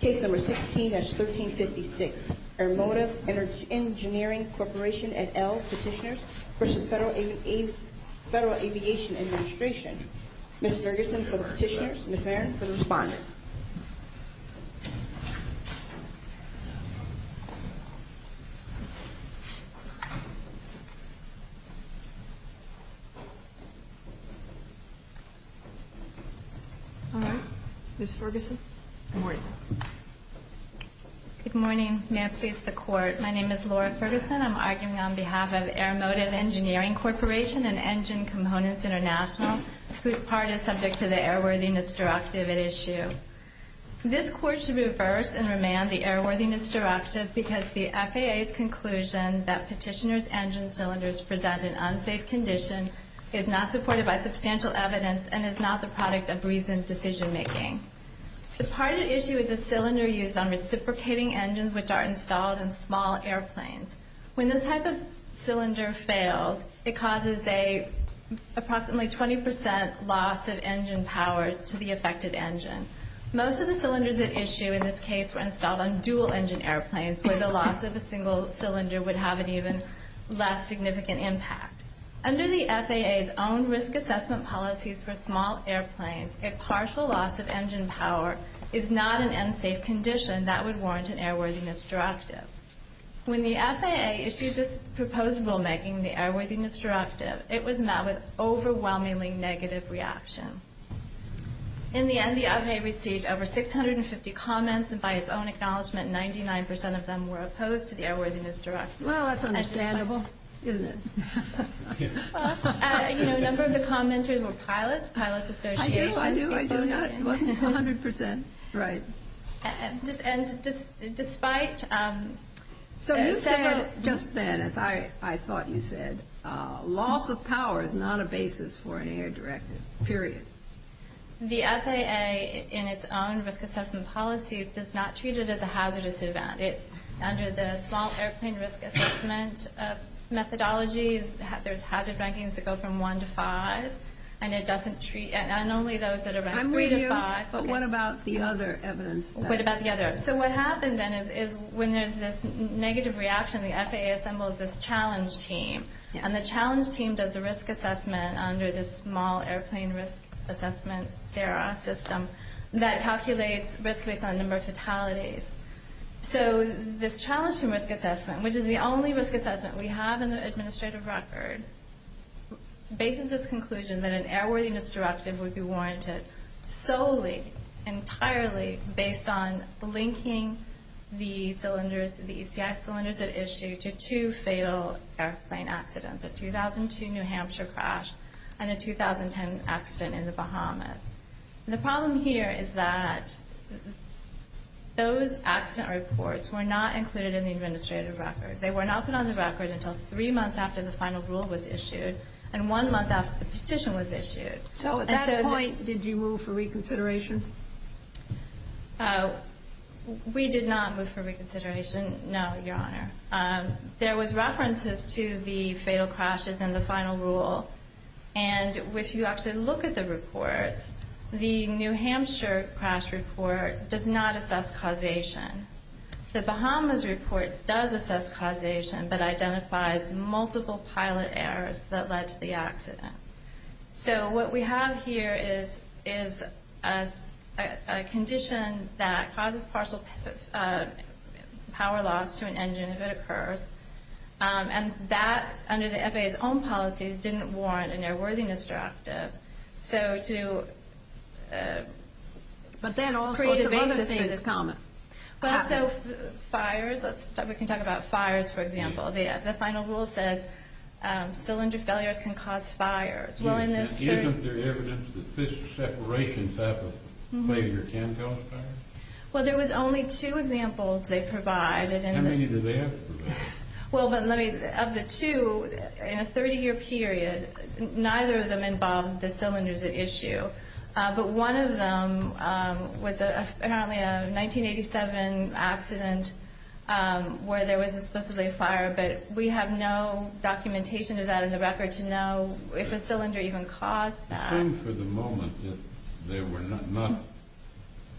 Case No. 16-1356, Airmotive Engineering Corp. at Elle Petitioners v. Federal Aviation Administration. Ms. Ferguson for the Petitioners, Ms. Marin for the Respondent. Ms. Ferguson, good morning. Good morning. May it please the Court, my name is Laura Ferguson. I'm arguing on behalf of Airmotive Engineering Corporation and Engine Components International, whose part is subject to the Airworthiness Directive at issue. This Court should reverse and remand the Airworthiness Directive because the FAA's conclusion that Petitioners' engine cylinders present an unsafe condition is not supported by substantial evidence and is not the product of recent decision-making. The part at issue is a cylinder used on reciprocating engines which are installed in small airplanes. When this type of cylinder fails, it causes an approximately 20 percent loss of engine power to the affected engine. Most of the cylinders at issue in this case were installed on dual-engine airplanes where the loss of a single cylinder would have an even less significant impact. Under the FAA's own risk assessment policies for small airplanes, a partial loss of engine power is not an unsafe condition that would warrant an Airworthiness Directive. When the FAA issued this proposed rule making the Airworthiness Directive, it was met with overwhelmingly negative reaction. In the end, the FAA received over 650 comments, and by its own acknowledgment, 99 percent of them were opposed to the Airworthiness Directive. Well, that's understandable, isn't it? Well, you know, a number of the commenters were pilots. Pilots' associations. I do, I do, I do. It wasn't 100 percent right. And despite... So you said just then, as I thought you said, loss of power is not a basis for an Air Directive, period. The FAA, in its own risk assessment policies, does not treat it as a hazardous event. Under the small airplane risk assessment methodology, there's hazard rankings that go from 1 to 5, and it doesn't treat, and only those that are ranked 3 to 5... I'm with you, but what about the other evidence? What about the other? So what happened then is when there's this negative reaction, the FAA assembles this challenge team, and the challenge team does a risk assessment under this small airplane risk assessment, SARA system, that calculates risk based on number of fatalities. So this challenge team risk assessment, which is the only risk assessment we have in the administrative record, bases its conclusion that an Airworthiness Directive would be warranted solely, entirely, based on linking the cylinders, the ECI cylinders at issue to two fatal airplane accidents, a 2002 New Hampshire crash and a 2010 accident in the Bahamas. The problem here is that those accident reports were not included in the administrative record. They were not put on the record until three months after the final rule was issued, and one month after the petition was issued. So at that point, did you move for reconsideration? We did not move for reconsideration, no, Your Honor. There was references to the fatal crashes and the final rule, and if you actually look at the reports, the New Hampshire crash report does not assess causation. The Bahamas report does assess causation, but identifies multiple pilot errors that led to the accident. So what we have here is a condition that causes partial power loss to an engine if it occurs, and that, under the FAA's own policies, didn't warrant an Airworthiness Directive, so to create a basis for this comment. So fires, we can talk about fires, for example. The final rule says cylinder failures can cause fires. Isn't there evidence that this separation type of failure can cause fires? Well, there was only two examples they provided. How many do they have to provide? Well, of the two, in a 30-year period, neither of them involved the cylinders at issue, but one of them was apparently a 1987 accident where there was supposedly a fire, but we have no documentation of that in the record to know if a cylinder even caused that. It seemed for the moment that there were not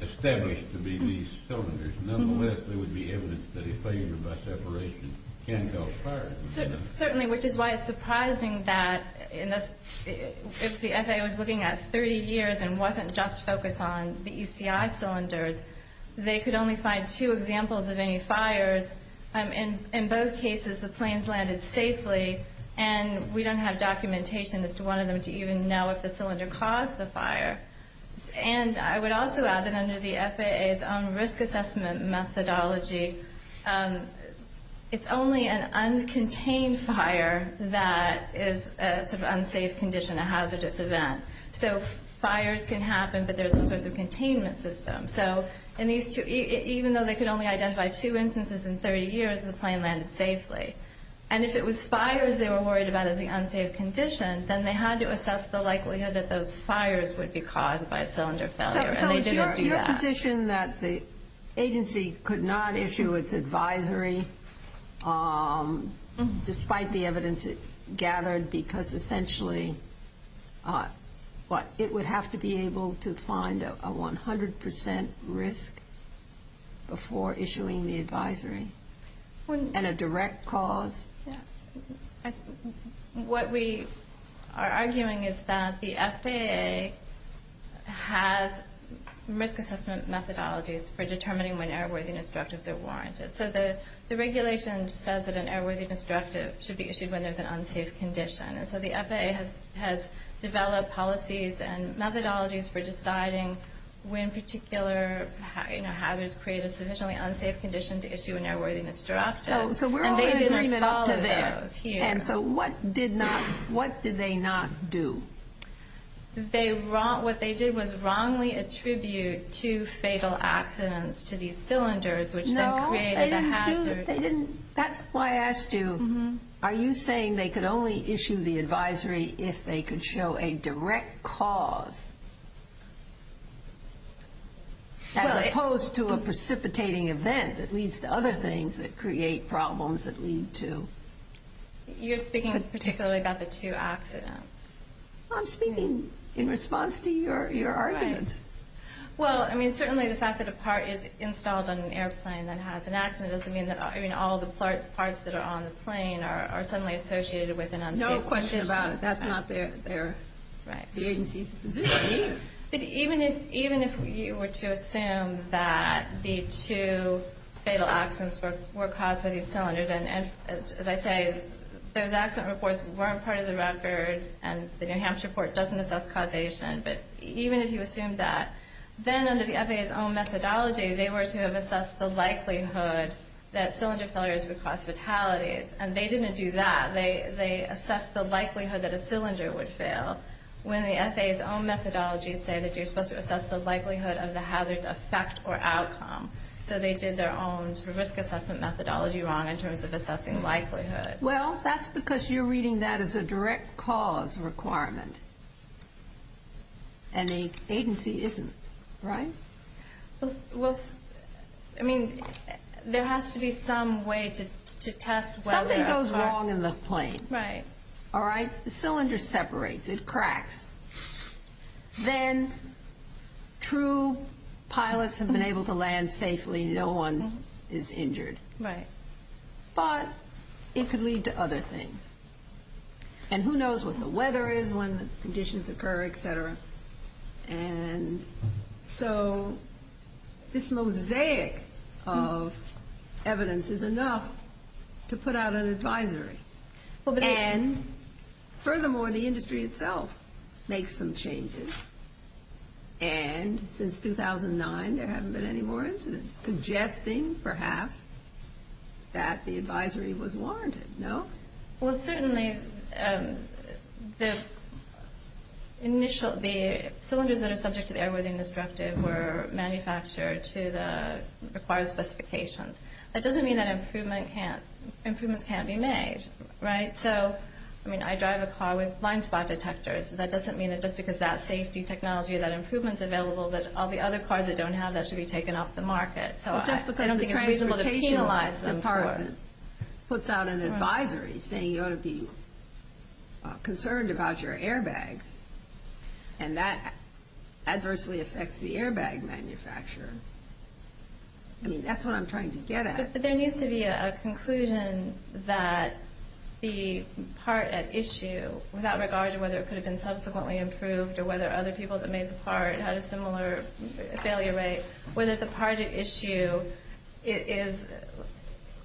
established to be these cylinders. Nonetheless, there would be evidence that a failure by separation can cause fires. Certainly, which is why it's surprising that if the FAA was looking at 30 years and wasn't just focused on the ECI cylinders, they could only find two examples of any fires. In both cases, the planes landed safely, and we don't have documentation as to one of them to even know if the cylinder caused the fire. And I would also add that under the FAA's own risk assessment methodology, it's only an uncontained fire that is a sort of unsafe condition, a hazardous event. So fires can happen, but there's no sort of containment system. So even though they could only identify two instances in 30 years, the plane landed safely. And if it was fires they were worried about as the unsafe condition, then they had to assess the likelihood that those fires would be caused by a cylinder failure, and they didn't do that. So is your position that the agency could not issue its advisory despite the evidence it gathered because essentially it would have to be able to find a 100 percent risk before issuing the advisory, and a direct cause? What we are arguing is that the FAA has risk assessment methodologies for determining when airworthiness directives are warranted. The regulation says that an airworthiness directive should be issued when there's an unsafe condition, and so the FAA has developed policies and methodologies for deciding when particular hazards create a sufficiently unsafe condition to issue an airworthiness directive. And they didn't follow those here. And so what did they not do? What they did was wrongly attribute two fatal accidents to these cylinders, which then created a hazard. That's why I asked you, are you saying they could only issue the advisory if they could show a direct cause, as opposed to a precipitating event that leads to other things that create problems that lead to... You're speaking particularly about the two accidents. I'm speaking in response to your arguments. Well, I mean, certainly the fact that a part is installed on an airplane that has an accident doesn't mean that all the parts that are on the plane are suddenly associated with an unsafe condition. No question about it. That's not their agency's position either. Even if you were to assume that the two fatal accidents were caused by these cylinders, and as I say, those accident reports weren't part of the record, and the New Hampshire report doesn't assess causation, but even if you assumed that, then under the FAA's own methodology, they were to have assessed the likelihood that cylinder failures would cause fatalities. And they didn't do that. They assessed the likelihood that a cylinder would fail when the FAA's own methodology said that you're supposed to assess the likelihood of the hazard's effect or outcome. So they did their own risk assessment methodology wrong in terms of assessing likelihood. Well, that's because you're reading that as a direct cause requirement. And the agency isn't, right? Well, I mean, there has to be some way to test whether a part... Something goes wrong in the plane. Right. All right? The cylinder separates. It cracks. Then true pilots have been able to land safely. No one is injured. Right. But it could lead to other things. And who knows what the weather is, when the conditions occur, et cetera. And so this mosaic of evidence is enough to put out an advisory. Well, but... And furthermore, the industry itself makes some changes. And since 2009, there haven't been any more incidents. Suggesting, perhaps, that the advisory was warranted. No? Well, certainly the initial... The cylinders that are subject to the airworthiness directive were manufactured to the required specifications. That doesn't mean that improvements can't be made. Right? So, I mean, I drive a car with blind spot detectors. That doesn't mean that just because that safety technology, that improvement's available, that all the other cars that don't have that should be taken off the market. So I don't think it's reasonable to penalize them for it. Well, just because the transportation department puts out an advisory, saying you ought to be concerned about your airbags, and that adversely affects the airbag manufacturer. I mean, that's what I'm trying to get at. But there needs to be a conclusion that the part at issue, without regard to whether it could have been subsequently improved, or whether other people that made the part had a similar failure rate, whether the part at issue fails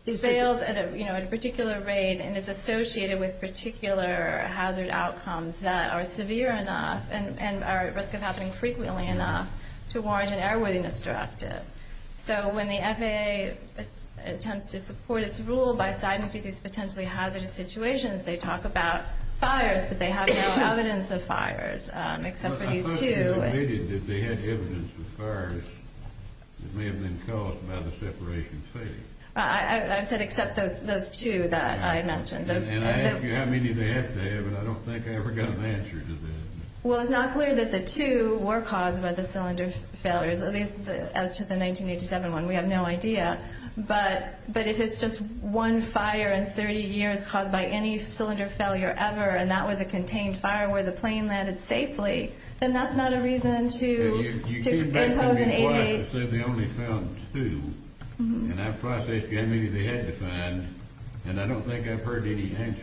at a particular rate, and is associated with particular hazard outcomes that are severe enough, and are at risk of happening frequently enough, to warrant an airworthiness directive. So when the FAA attempts to support its rule by citing these potentially hazardous situations, they talk about fires, but they have no evidence of fires, except for these two. I thought you admitted that they had evidence of fires that may have been caused by the separation failure. I said except those two that I mentioned. And I ask you how many they have to have, and I don't think I ever got an answer to that. Well, it's not clear that the two were caused by the cylinder failures, at least as to the 1987 one. We have no idea. But if it's just one fire in 30 years caused by any cylinder failure ever, and that was a contained fire where the plane landed safely, then that's not a reason to impose an 88. You said they only found two, and I'm trying to figure out how many they had to find, and I don't think I've heard any answer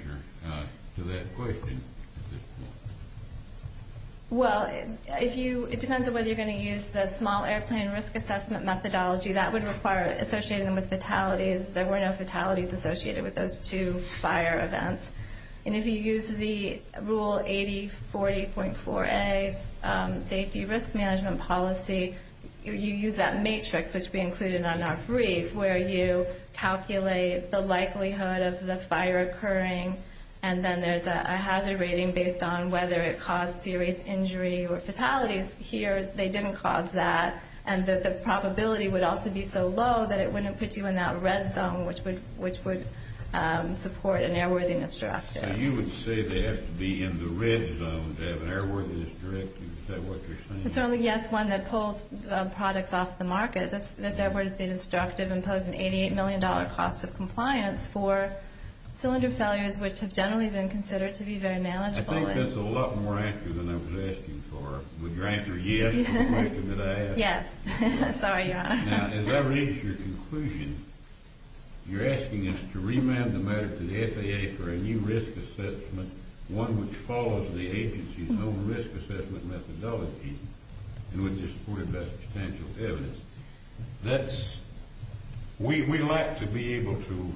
to that question at this point. Well, it depends on whether you're going to use the small airplane risk assessment methodology. That would require associating them with fatalities. There were no fatalities associated with those two fire events. And if you use the Rule 8040.4a Safety Risk Management Policy, you use that matrix, which we included on our brief, where you calculate the likelihood of the fire occurring, and then there's a hazard rating based on whether it caused serious injury or fatalities. Here, they didn't cause that, and the probability would also be so low that it wouldn't put you in that red zone, which would support an airworthiness directive. So you would say they have to be in the red zone to have an airworthiness directive? Is that what you're saying? Certainly, yes, one that pulls products off the market. This airworthiness directive imposed an $88 million cost of compliance for cylinder failures, which have generally been considered to be very manageable. I think that's a lot more accurate than I was asking for. Would your answer yes to the question that I asked? Yes. Sorry, Your Honor. Now, as I read your conclusion, you're asking us to remand the matter to the FAA for a new risk assessment, one which follows the agency's own risk assessment methodology, and would be supported by substantial evidence. That's... We'd like to be able to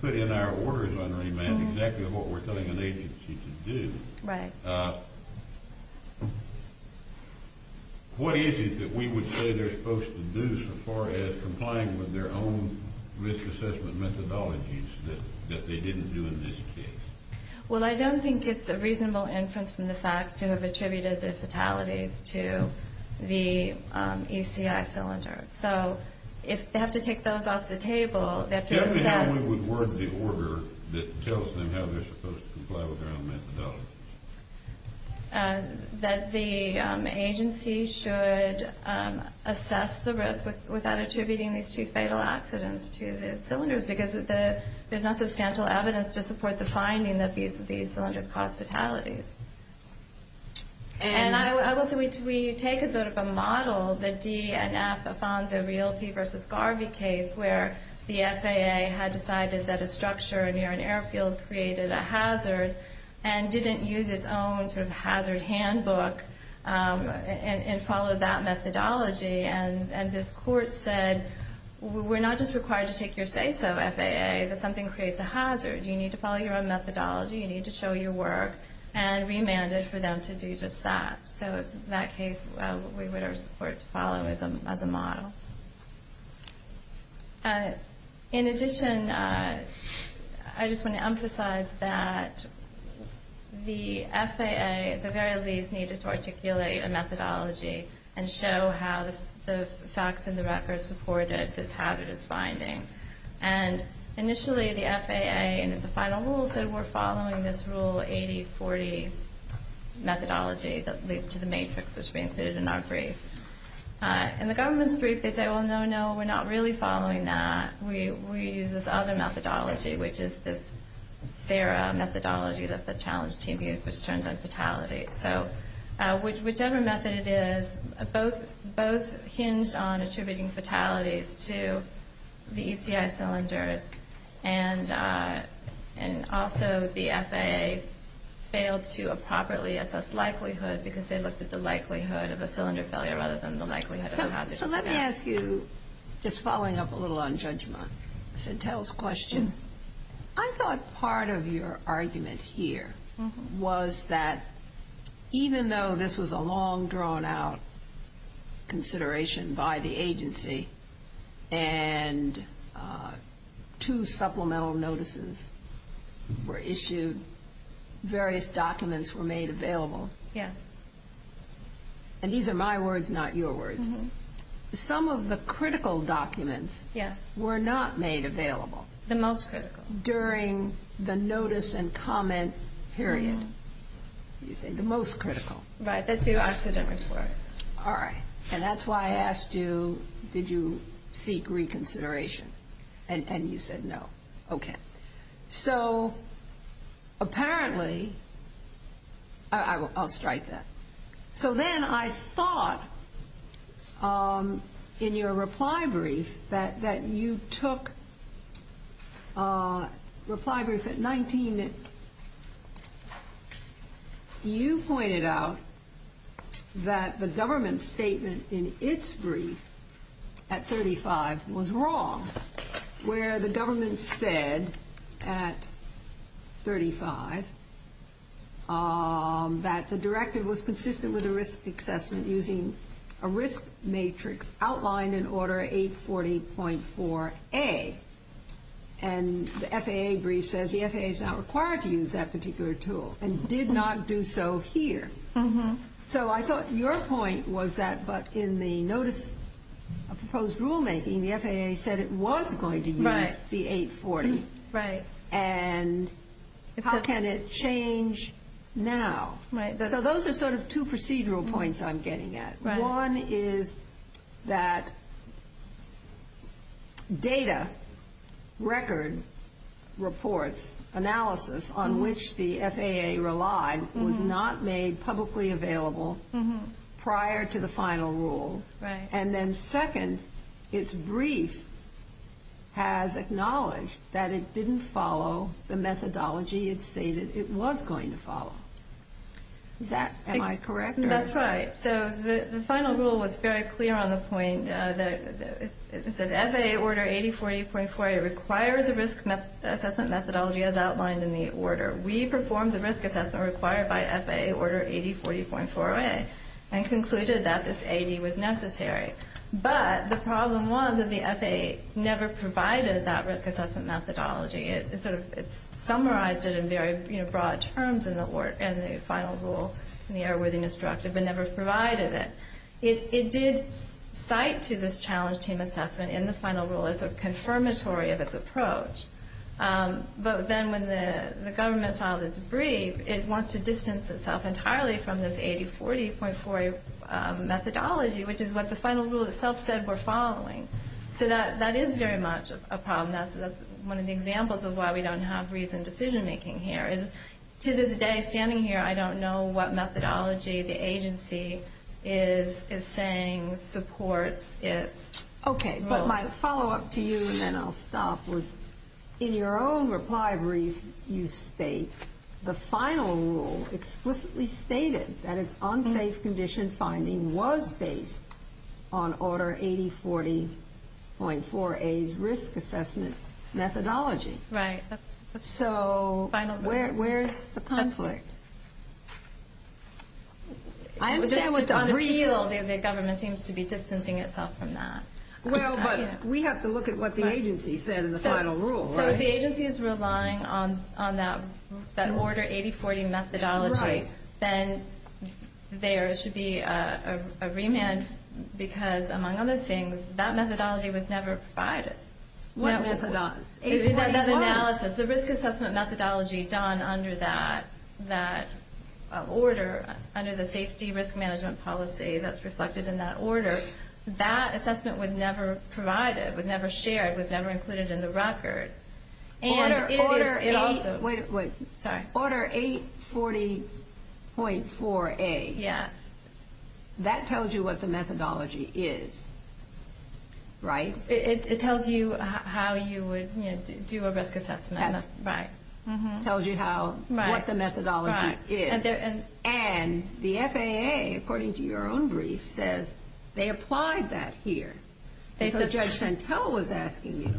put in our orders on remand exactly what we're telling an agency to do. Right. What is it that we would say they're supposed to do so far as complying with their own risk assessment methodologies that they didn't do in this case? Well, I don't think it's a reasonable inference from the facts to have attributed the fatalities to the ECI cylinders. So, if they have to take those off the table, they have to assess... Tell me how we would word the order that tells them how they're supposed to comply with their own methodology. That the agency should assess the risk without attributing these two fatal accidents to the cylinders, because there's not substantial evidence to support the finding that these cylinders cause fatalities. And... And I will say we take a sort of a model, the D and F Afonso Realty v. Garvey case, where the FAA had decided that a structure near an airfield created a hazard, and didn't use its own sort of hazard handbook, and followed that methodology. And this court said, we're not just required to take your say-so, FAA, that something creates a hazard. You need to follow your own methodology, you need to show your work. And remanded for them to do just that. So, in that case, we would have support to follow as a model. In addition, I just want to emphasize that the FAA, at the very least, needed to articulate a methodology, and show how the facts and the records supported this hazardous finding. And initially, the FAA, in the final rule, said we're following this Rule 8040 methodology that leads to the matrix, which we included in our brief. In the government's brief, they say, well, no, no, we're not really following that. We use this other methodology, which is this SARA methodology that the challenge team used, which turns on fatalities. So, whichever method it is, both hinged on attributing fatalities to the ECI cylinders. And also, the FAA failed to properly assess likelihood, because they looked at the likelihood of a cylinder failure rather than the likelihood of a hazardous event. So, let me ask you, just following up a little on judgment, Satel's question. I thought part of your argument here was that, even though this was a long-drawn-out consideration by the agency, and two supplemental notices were issued, various documents were made available. Yes. And these are my words, not your words. Some of the critical documents were not made available. The most critical. During the notice and comment period. You say the most critical. Right, the two accident reports. All right. And that's why I asked you, did you seek reconsideration? And you said no. Okay. So, apparently, I'll strike that. So then, I thought, in your reply brief, that you took, reply brief at 19, you pointed out that the government's statement in its brief at 35 was wrong. Where the government said, at 35, that the directive was consistent with the risk assessment using a risk matrix outlined in Order 840.4A. And the FAA brief says the FAA is not required to use that particular tool, and did not do so here. So, I thought your point was that, but in the notice of proposed rulemaking, the FAA said it was going to use the 840. Right. And how can it change now? So, those are sort of two procedural points I'm getting at. One is that data, record, reports, analysis, on which the FAA relied, was not made publicly available prior to the final rule. And then, second, its brief has acknowledged that it didn't follow the methodology it stated it was going to follow. Am I correct? That's right. So, the final rule was very clear on the point that it said, FAA Order 840.4A requires a risk assessment methodology as outlined in the order. We performed the risk assessment required by FAA Order 840.4A, and concluded that this AD was necessary. But, the problem was that the FAA never provided that risk assessment methodology. It sort of summarized it in very broad terms in the final rule, in the error-worthiness directive, but never provided it. It did cite to this challenge team assessment in the final rule as a confirmatory of its approach. But then, when the government filed its brief, it wants to distance itself entirely from this 8040.4A methodology, which is what the final rule itself said we're following. So, that is very much a problem. That's one of the examples of why we don't have reasoned decision-making here. To this day, standing here, I don't know what methodology the agency is saying supports its rule. Okay, but my follow-up to you, and then I'll stop, was in your own reply brief, you state, the final rule explicitly stated that its unsafe condition finding was based on Order 8040.4A's risk assessment methodology. Right. So, where's the conflict? I'm saying what's unreal. The government seems to be distancing itself from that. Well, but we have to look at what the agency said in the final rule, right? So, if the agency is relying on that Order 8040 methodology, then there should be a remand because, among other things, that methodology was never provided. What methodology? The risk assessment methodology done under that order, under the safety risk management policy that's reflected in that order, that assessment was never provided, was never shared, was never included in the record. Order 840.4A. Yes. That tells you what the methodology is, right? It tells you how you would do a risk assessment. Tells you what the methodology is. And the FAA, according to your own brief, says they applied that here. So, Judge Pantel was asking you,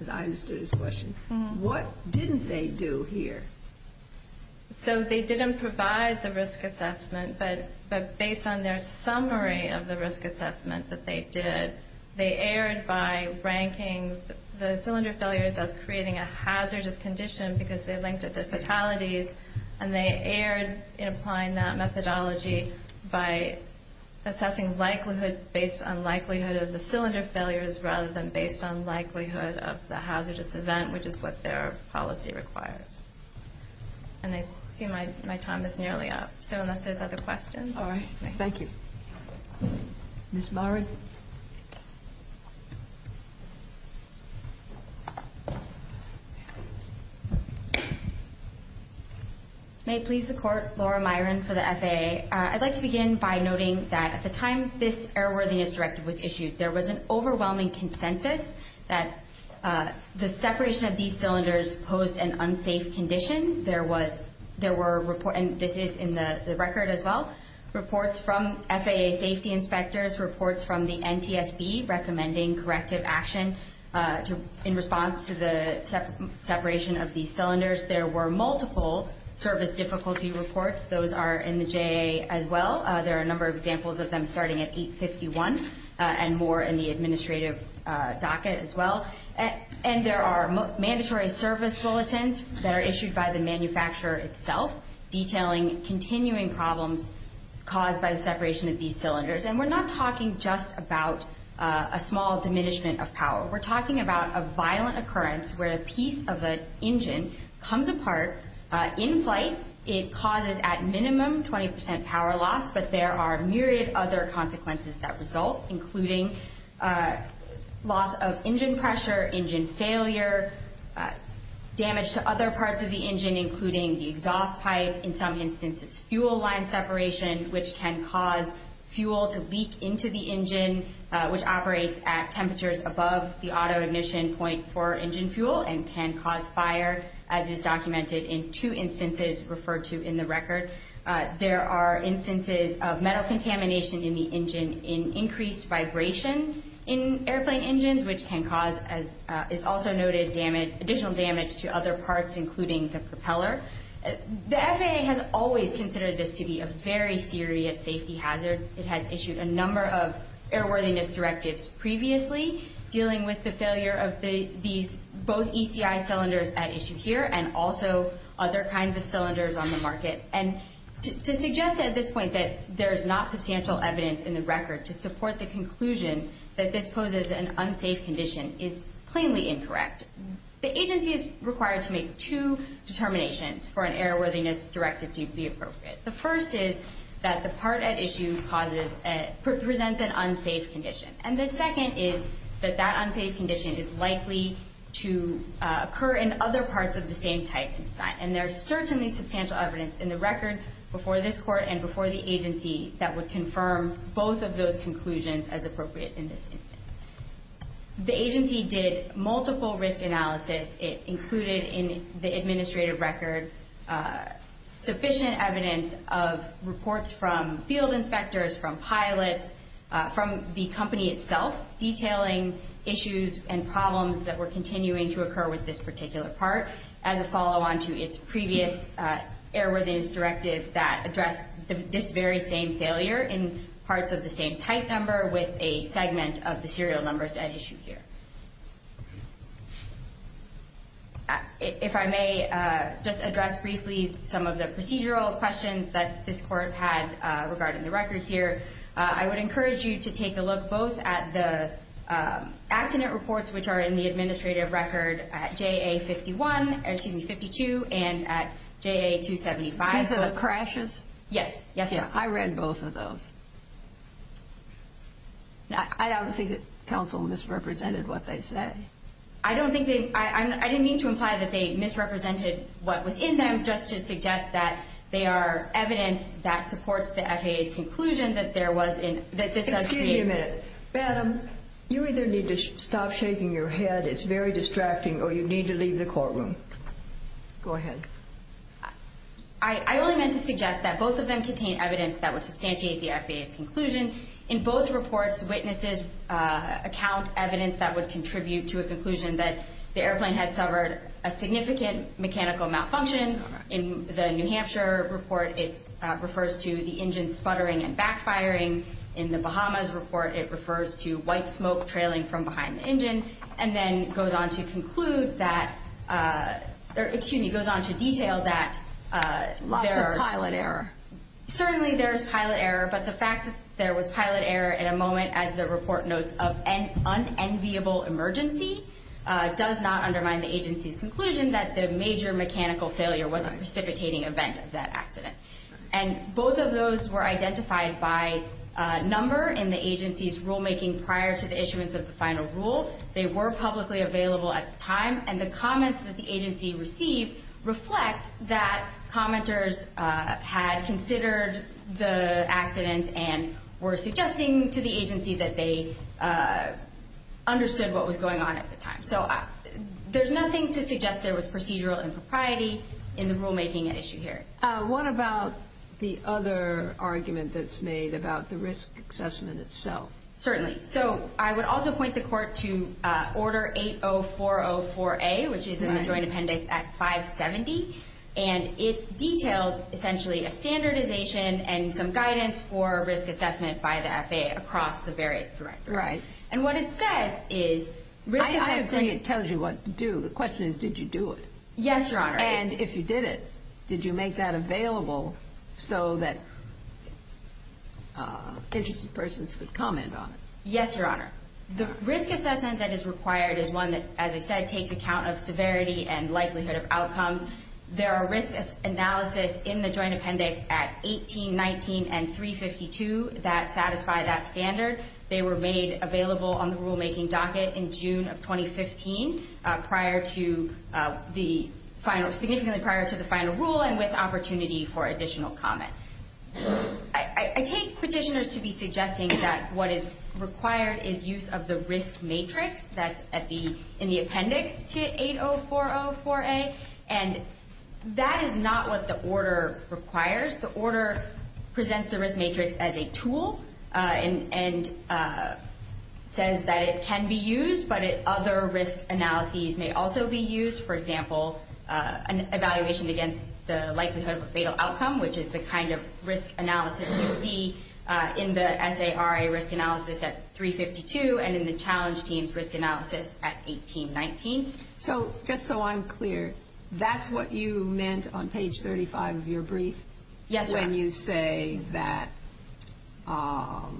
as I understood his question, what didn't they do here? So, they didn't provide the risk assessment, but based on their summary of the risk assessment that they did, they erred by ranking the cylinder failures as creating a hazardous condition because they linked it to fatalities, and they erred in applying that methodology by assessing likelihood based on likelihood of the cylinder failures rather than based on likelihood of the hazardous event, which is what their policy requires. And I see my time is nearly up. So, unless there's other questions. All right. Thank you. Ms. Myron? May it please the Court, Laura Myron for the FAA. I'd like to begin by noting that at the time this Errorworthiness Directive was issued, there was an overwhelming consensus that the separation of these cylinders posed an unsafe condition. There were reports, and this is in the record as well, reports from FAA safety inspectors, reports from the NTSB recommending corrective action in response to the separation of these cylinders. There were multiple service difficulty reports. Those are in the JA as well. There are a number of examples of them starting at 851 and more in the administrative docket as well. And there are mandatory service bulletins that are issued by the manufacturer itself detailing continuing problems caused by the separation of these cylinders. And we're not talking just about a small diminishment of power. We're talking about a violent occurrence where a piece of an engine comes apart in flight. It causes at minimum 20% power loss, but there are myriad other consequences that result, including loss of engine pressure, engine failure, damage to other parts of the engine, including the exhaust pipe. In some instances, fuel line separation, which can cause fuel to leak into the engine, which operates at temperatures above the auto-ignition point for engine fuel and can cause fire, as is documented in two instances referred to in the record. There are instances of metal contamination in the engine in increased vibration in airplane engines, which can cause, as is also noted, additional damage to other parts, including the propeller. The FAA has always considered this to be a very serious safety hazard. It has issued a number of airworthiness directives previously dealing with the failure of these, both ECI cylinders at issue here and also other kinds of cylinders on the market. To suggest at this point that there's not substantial evidence in the record to support the conclusion that this poses an unsafe condition is plainly incorrect. The agency is required to make two determinations for an airworthiness directive to be appropriate. The first is that the part at issue presents an unsafe condition. And the second is that that unsafe condition is likely to occur in other parts of the same type. And there's certainly substantial evidence in the record before this court and before the agency that would confirm both of those conclusions as appropriate in this instance. The agency did multiple risk analysis. It included in the administrative record sufficient evidence of reports from field inspectors, from pilots, from the company itself, detailing issues and problems that were continuing to occur with this particular part as a follow-on to its previous airworthiness directive that addressed this very same failure in parts of the same type number with a segment of the serial numbers at issue here. If I may just address briefly some of the procedural questions that this court had regarding the record here, I would encourage you to take a look both at the accident reports, which are in the administrative record at JA-52 and at JA-275. These are the crashes? Yes. I read both of those. I don't think that counsel misrepresented what they said. I didn't mean to imply that they misrepresented what was in them, just to suggest that they are evidence that supports the FAA's conclusion that this does create... Wait a minute. Madam, you either need to stop shaking your head. It's very distracting, or you need to leave the courtroom. Go ahead. I only meant to suggest that both of them contain evidence that would substantiate the FAA's conclusion. In both reports, witnesses account evidence that would contribute to a conclusion that the airplane had suffered a significant mechanical malfunction. In the New Hampshire report, it refers to the engine sputtering and backfiring. In the Bahamas report, it refers to white smoke trailing from behind the engine, and then goes on to conclude that... Excuse me, goes on to detail that... Lots of pilot error. Certainly, there's pilot error, but the fact that there was pilot error at a moment, as the report notes, of an unenviable emergency, does not undermine the agency's conclusion that the major mechanical failure was a precipitating event of that accident. And both of those were identified by number in the agency's rulemaking prior to the issuance of the final rule. They were publicly available at the time, and the comments that the agency received reflect that commenters had considered the accident and were suggesting to the agency that they understood what was going on at the time. So there's nothing to suggest there was procedural impropriety in the rulemaking at issue here. What about the other argument that's made about the risk assessment itself? Certainly. So I would also point the Court to Order 80404A, which is in the Joint Appendix at 570, and it details essentially a standardization and some guidance for risk assessment by the FAA across the various directors. Right. And what it says is risk assessment... I agree it tells you what to do. The question is, did you do it? Yes, Your Honor. And if you did it, did you make that available so that interested persons could comment on it? Yes, Your Honor. The risk assessment that is required is one that, as I said, takes account of severity and likelihood of outcomes. There are risk analysis in the Joint Appendix at 18, 19, and 352 that satisfy that standard. They were made available on the rulemaking docket in June of 2015, significantly prior to the final rule and with opportunity for additional comment. I take petitioners to be suggesting that what is required is use of the risk matrix that's in the appendix to 80404A, and that is not what the order requires. The order presents the risk matrix as a tool and says that it can be used, but other risk analyses may also be used. For example, an evaluation against the likelihood of a fatal outcome, which is the kind of risk analysis you see in the SARA risk analysis at 352 and in the challenge team's risk analysis at 18, 19. So just so I'm clear, that's what you meant on page 35 of your brief? Yes, Your Honor. When you say that, well,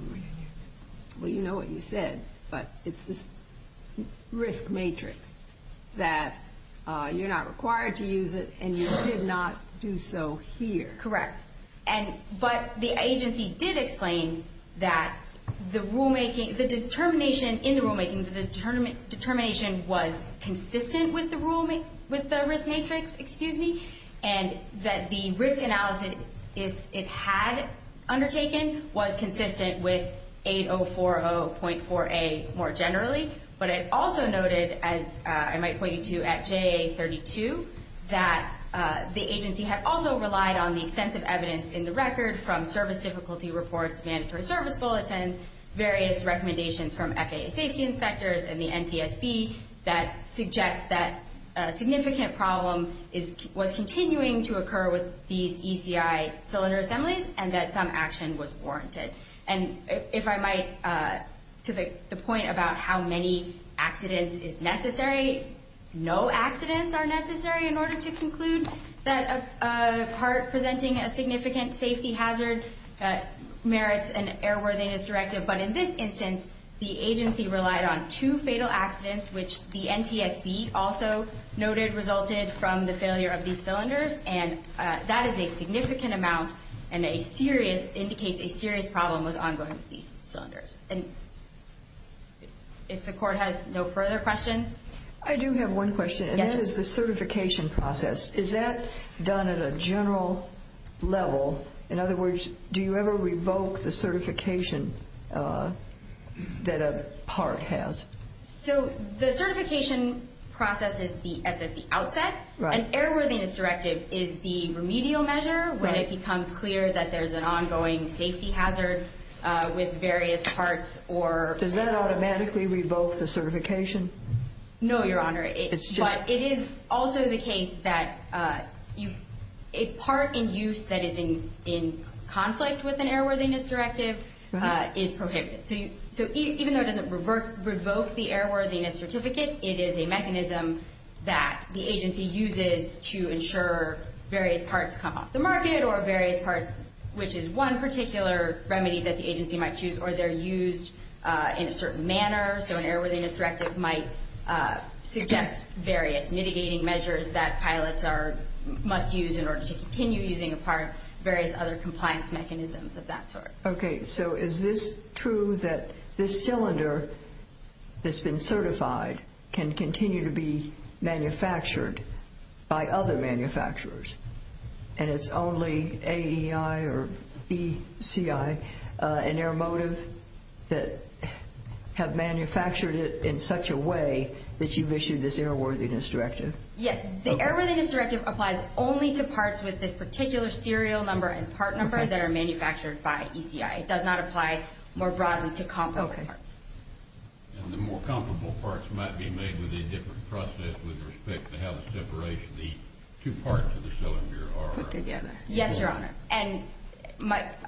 you know what you said, but it's this risk matrix that you're not required to use it and you did not do so here. Correct. But the agency did explain that the rulemaking, the determination in the rulemaking, the determination was consistent with the risk matrix, and that the risk analysis it had undertaken was consistent with 8040.4A more generally. But it also noted, as I might point you to at JA32, that the agency had also relied on the extensive evidence in the record from service difficulty reports, mandatory service bulletins, various recommendations from FAA safety inspectors and the NTSB that suggests that a significant problem was continuing to occur with these ECI cylinder assemblies and that some action was warranted. And if I might, to the point about how many accidents is necessary, no accidents are necessary in order to conclude that a part presenting a significant safety hazard merits an airworthiness directive. But in this instance, the agency relied on two fatal accidents, which the NTSB also noted resulted from the failure of these cylinders, and that is a significant amount and indicates a serious problem was ongoing with these cylinders. And if the Court has no further questions? I do have one question, and this is the certification process. Is that done at a general level? In other words, do you ever revoke the certification that a part has? So the certification process is at the outset. An airworthiness directive is the remedial measure when it becomes clear that there's an ongoing safety hazard with various parts. Does that automatically revoke the certification? No, Your Honor. But it is also the case that a part in use that is in conflict with an airworthiness directive is prohibited. So even though it doesn't revoke the airworthiness certificate, it is a mechanism that the agency uses to ensure various parts come off the market or various parts, which is one particular remedy that the agency might choose, or they're used in a certain manner. So an airworthiness directive might suggest various mitigating measures that pilots must use in order to continue using a part, various other compliance mechanisms of that sort. Okay. So is this true that this cylinder that's been certified can continue to be manufactured by other manufacturers, and it's only AEI or ECI and Airmotive that have manufactured it in such a way that you've issued this airworthiness directive? Yes. The airworthiness directive applies only to parts with this particular serial number and part number that are manufactured by ECI. It does not apply more broadly to comparable parts. Okay. And the more comparable parts might be made with a different process with respect to how the separation, the two parts of the cylinder are put together. Yes, Your Honor. And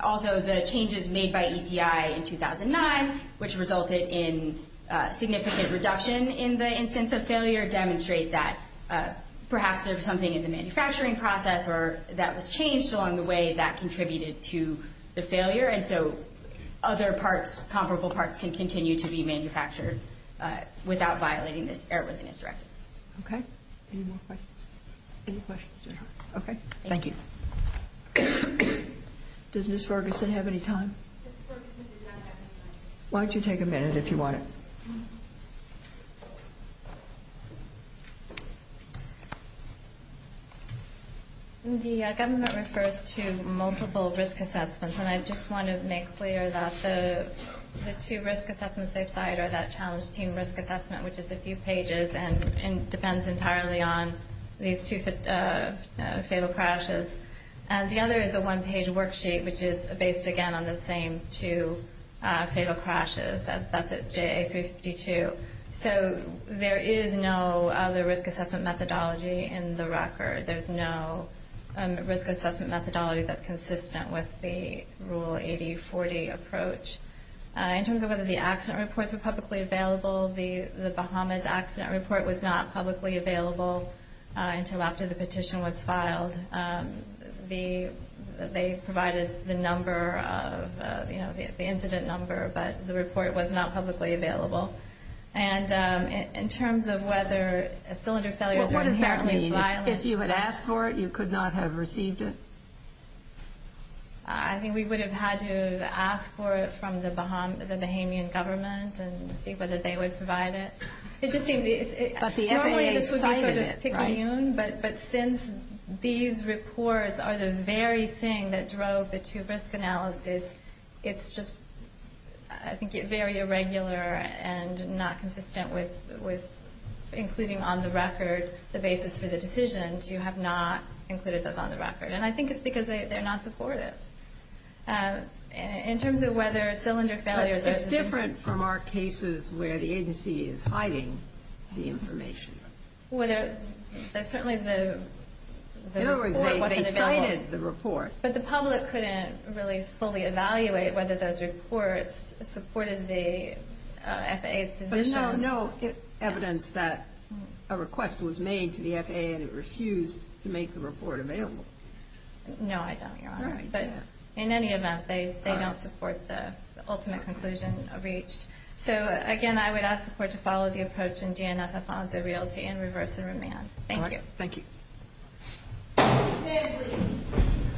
also the changes made by ECI in 2009, which resulted in significant reduction in the instance of failure, demonstrate that perhaps there was something in the manufacturing process or that was changed along the way that contributed to the failure, and so other parts, comparable parts can continue to be manufactured without violating this airworthiness directive. Okay. Any more questions? Any questions, Your Honor? Okay. Thank you. Does Ms. Ferguson have any time? Ms. Ferguson does not have any time. Why don't you take a minute if you want to. Thank you. The government refers to multiple risk assessments, and I just want to make clear that the two risk assessments they cite are that challenge team risk assessment, which is a few pages and depends entirely on these two fatal crashes. The other is a one-page worksheet, which is based, again, on the same two fatal crashes. That's at JA352. So there is no other risk assessment methodology in the record. There's no risk assessment methodology that's consistent with the Rule 8040 approach. In terms of whether the accident reports were publicly available, the Bahamas accident report was not publicly available until after the petition was filed. They provided the number, the incident number, but the report was not publicly available. And in terms of whether cylinder failures were inherently violent. What does that mean? If you had asked for it, you could not have received it? I think we would have had to have asked for it from the Bahamian government and see whether they would provide it. But the FAA cited it, right? But since these reports are the very thing that drove the two-risk analysis, it's just, I think, very irregular and not consistent with including on the record the basis for the decisions. You have not included those on the record. And I think it's because they're not supportive. In terms of whether cylinder failures are- Different from our cases where the agency is hiding the information. Certainly the report wasn't available. In other words, they cited the report. But the public couldn't really fully evaluate whether those reports supported the FAA's position. But there's no evidence that a request was made to the FAA and it refused to make the report available. No, I don't, Your Honor. But in any event, they don't support the ultimate conclusion reached. So, again, I would ask the Court to follow the approach in DNF-Afonso Realty and reverse the remand. Thank you. Thank you.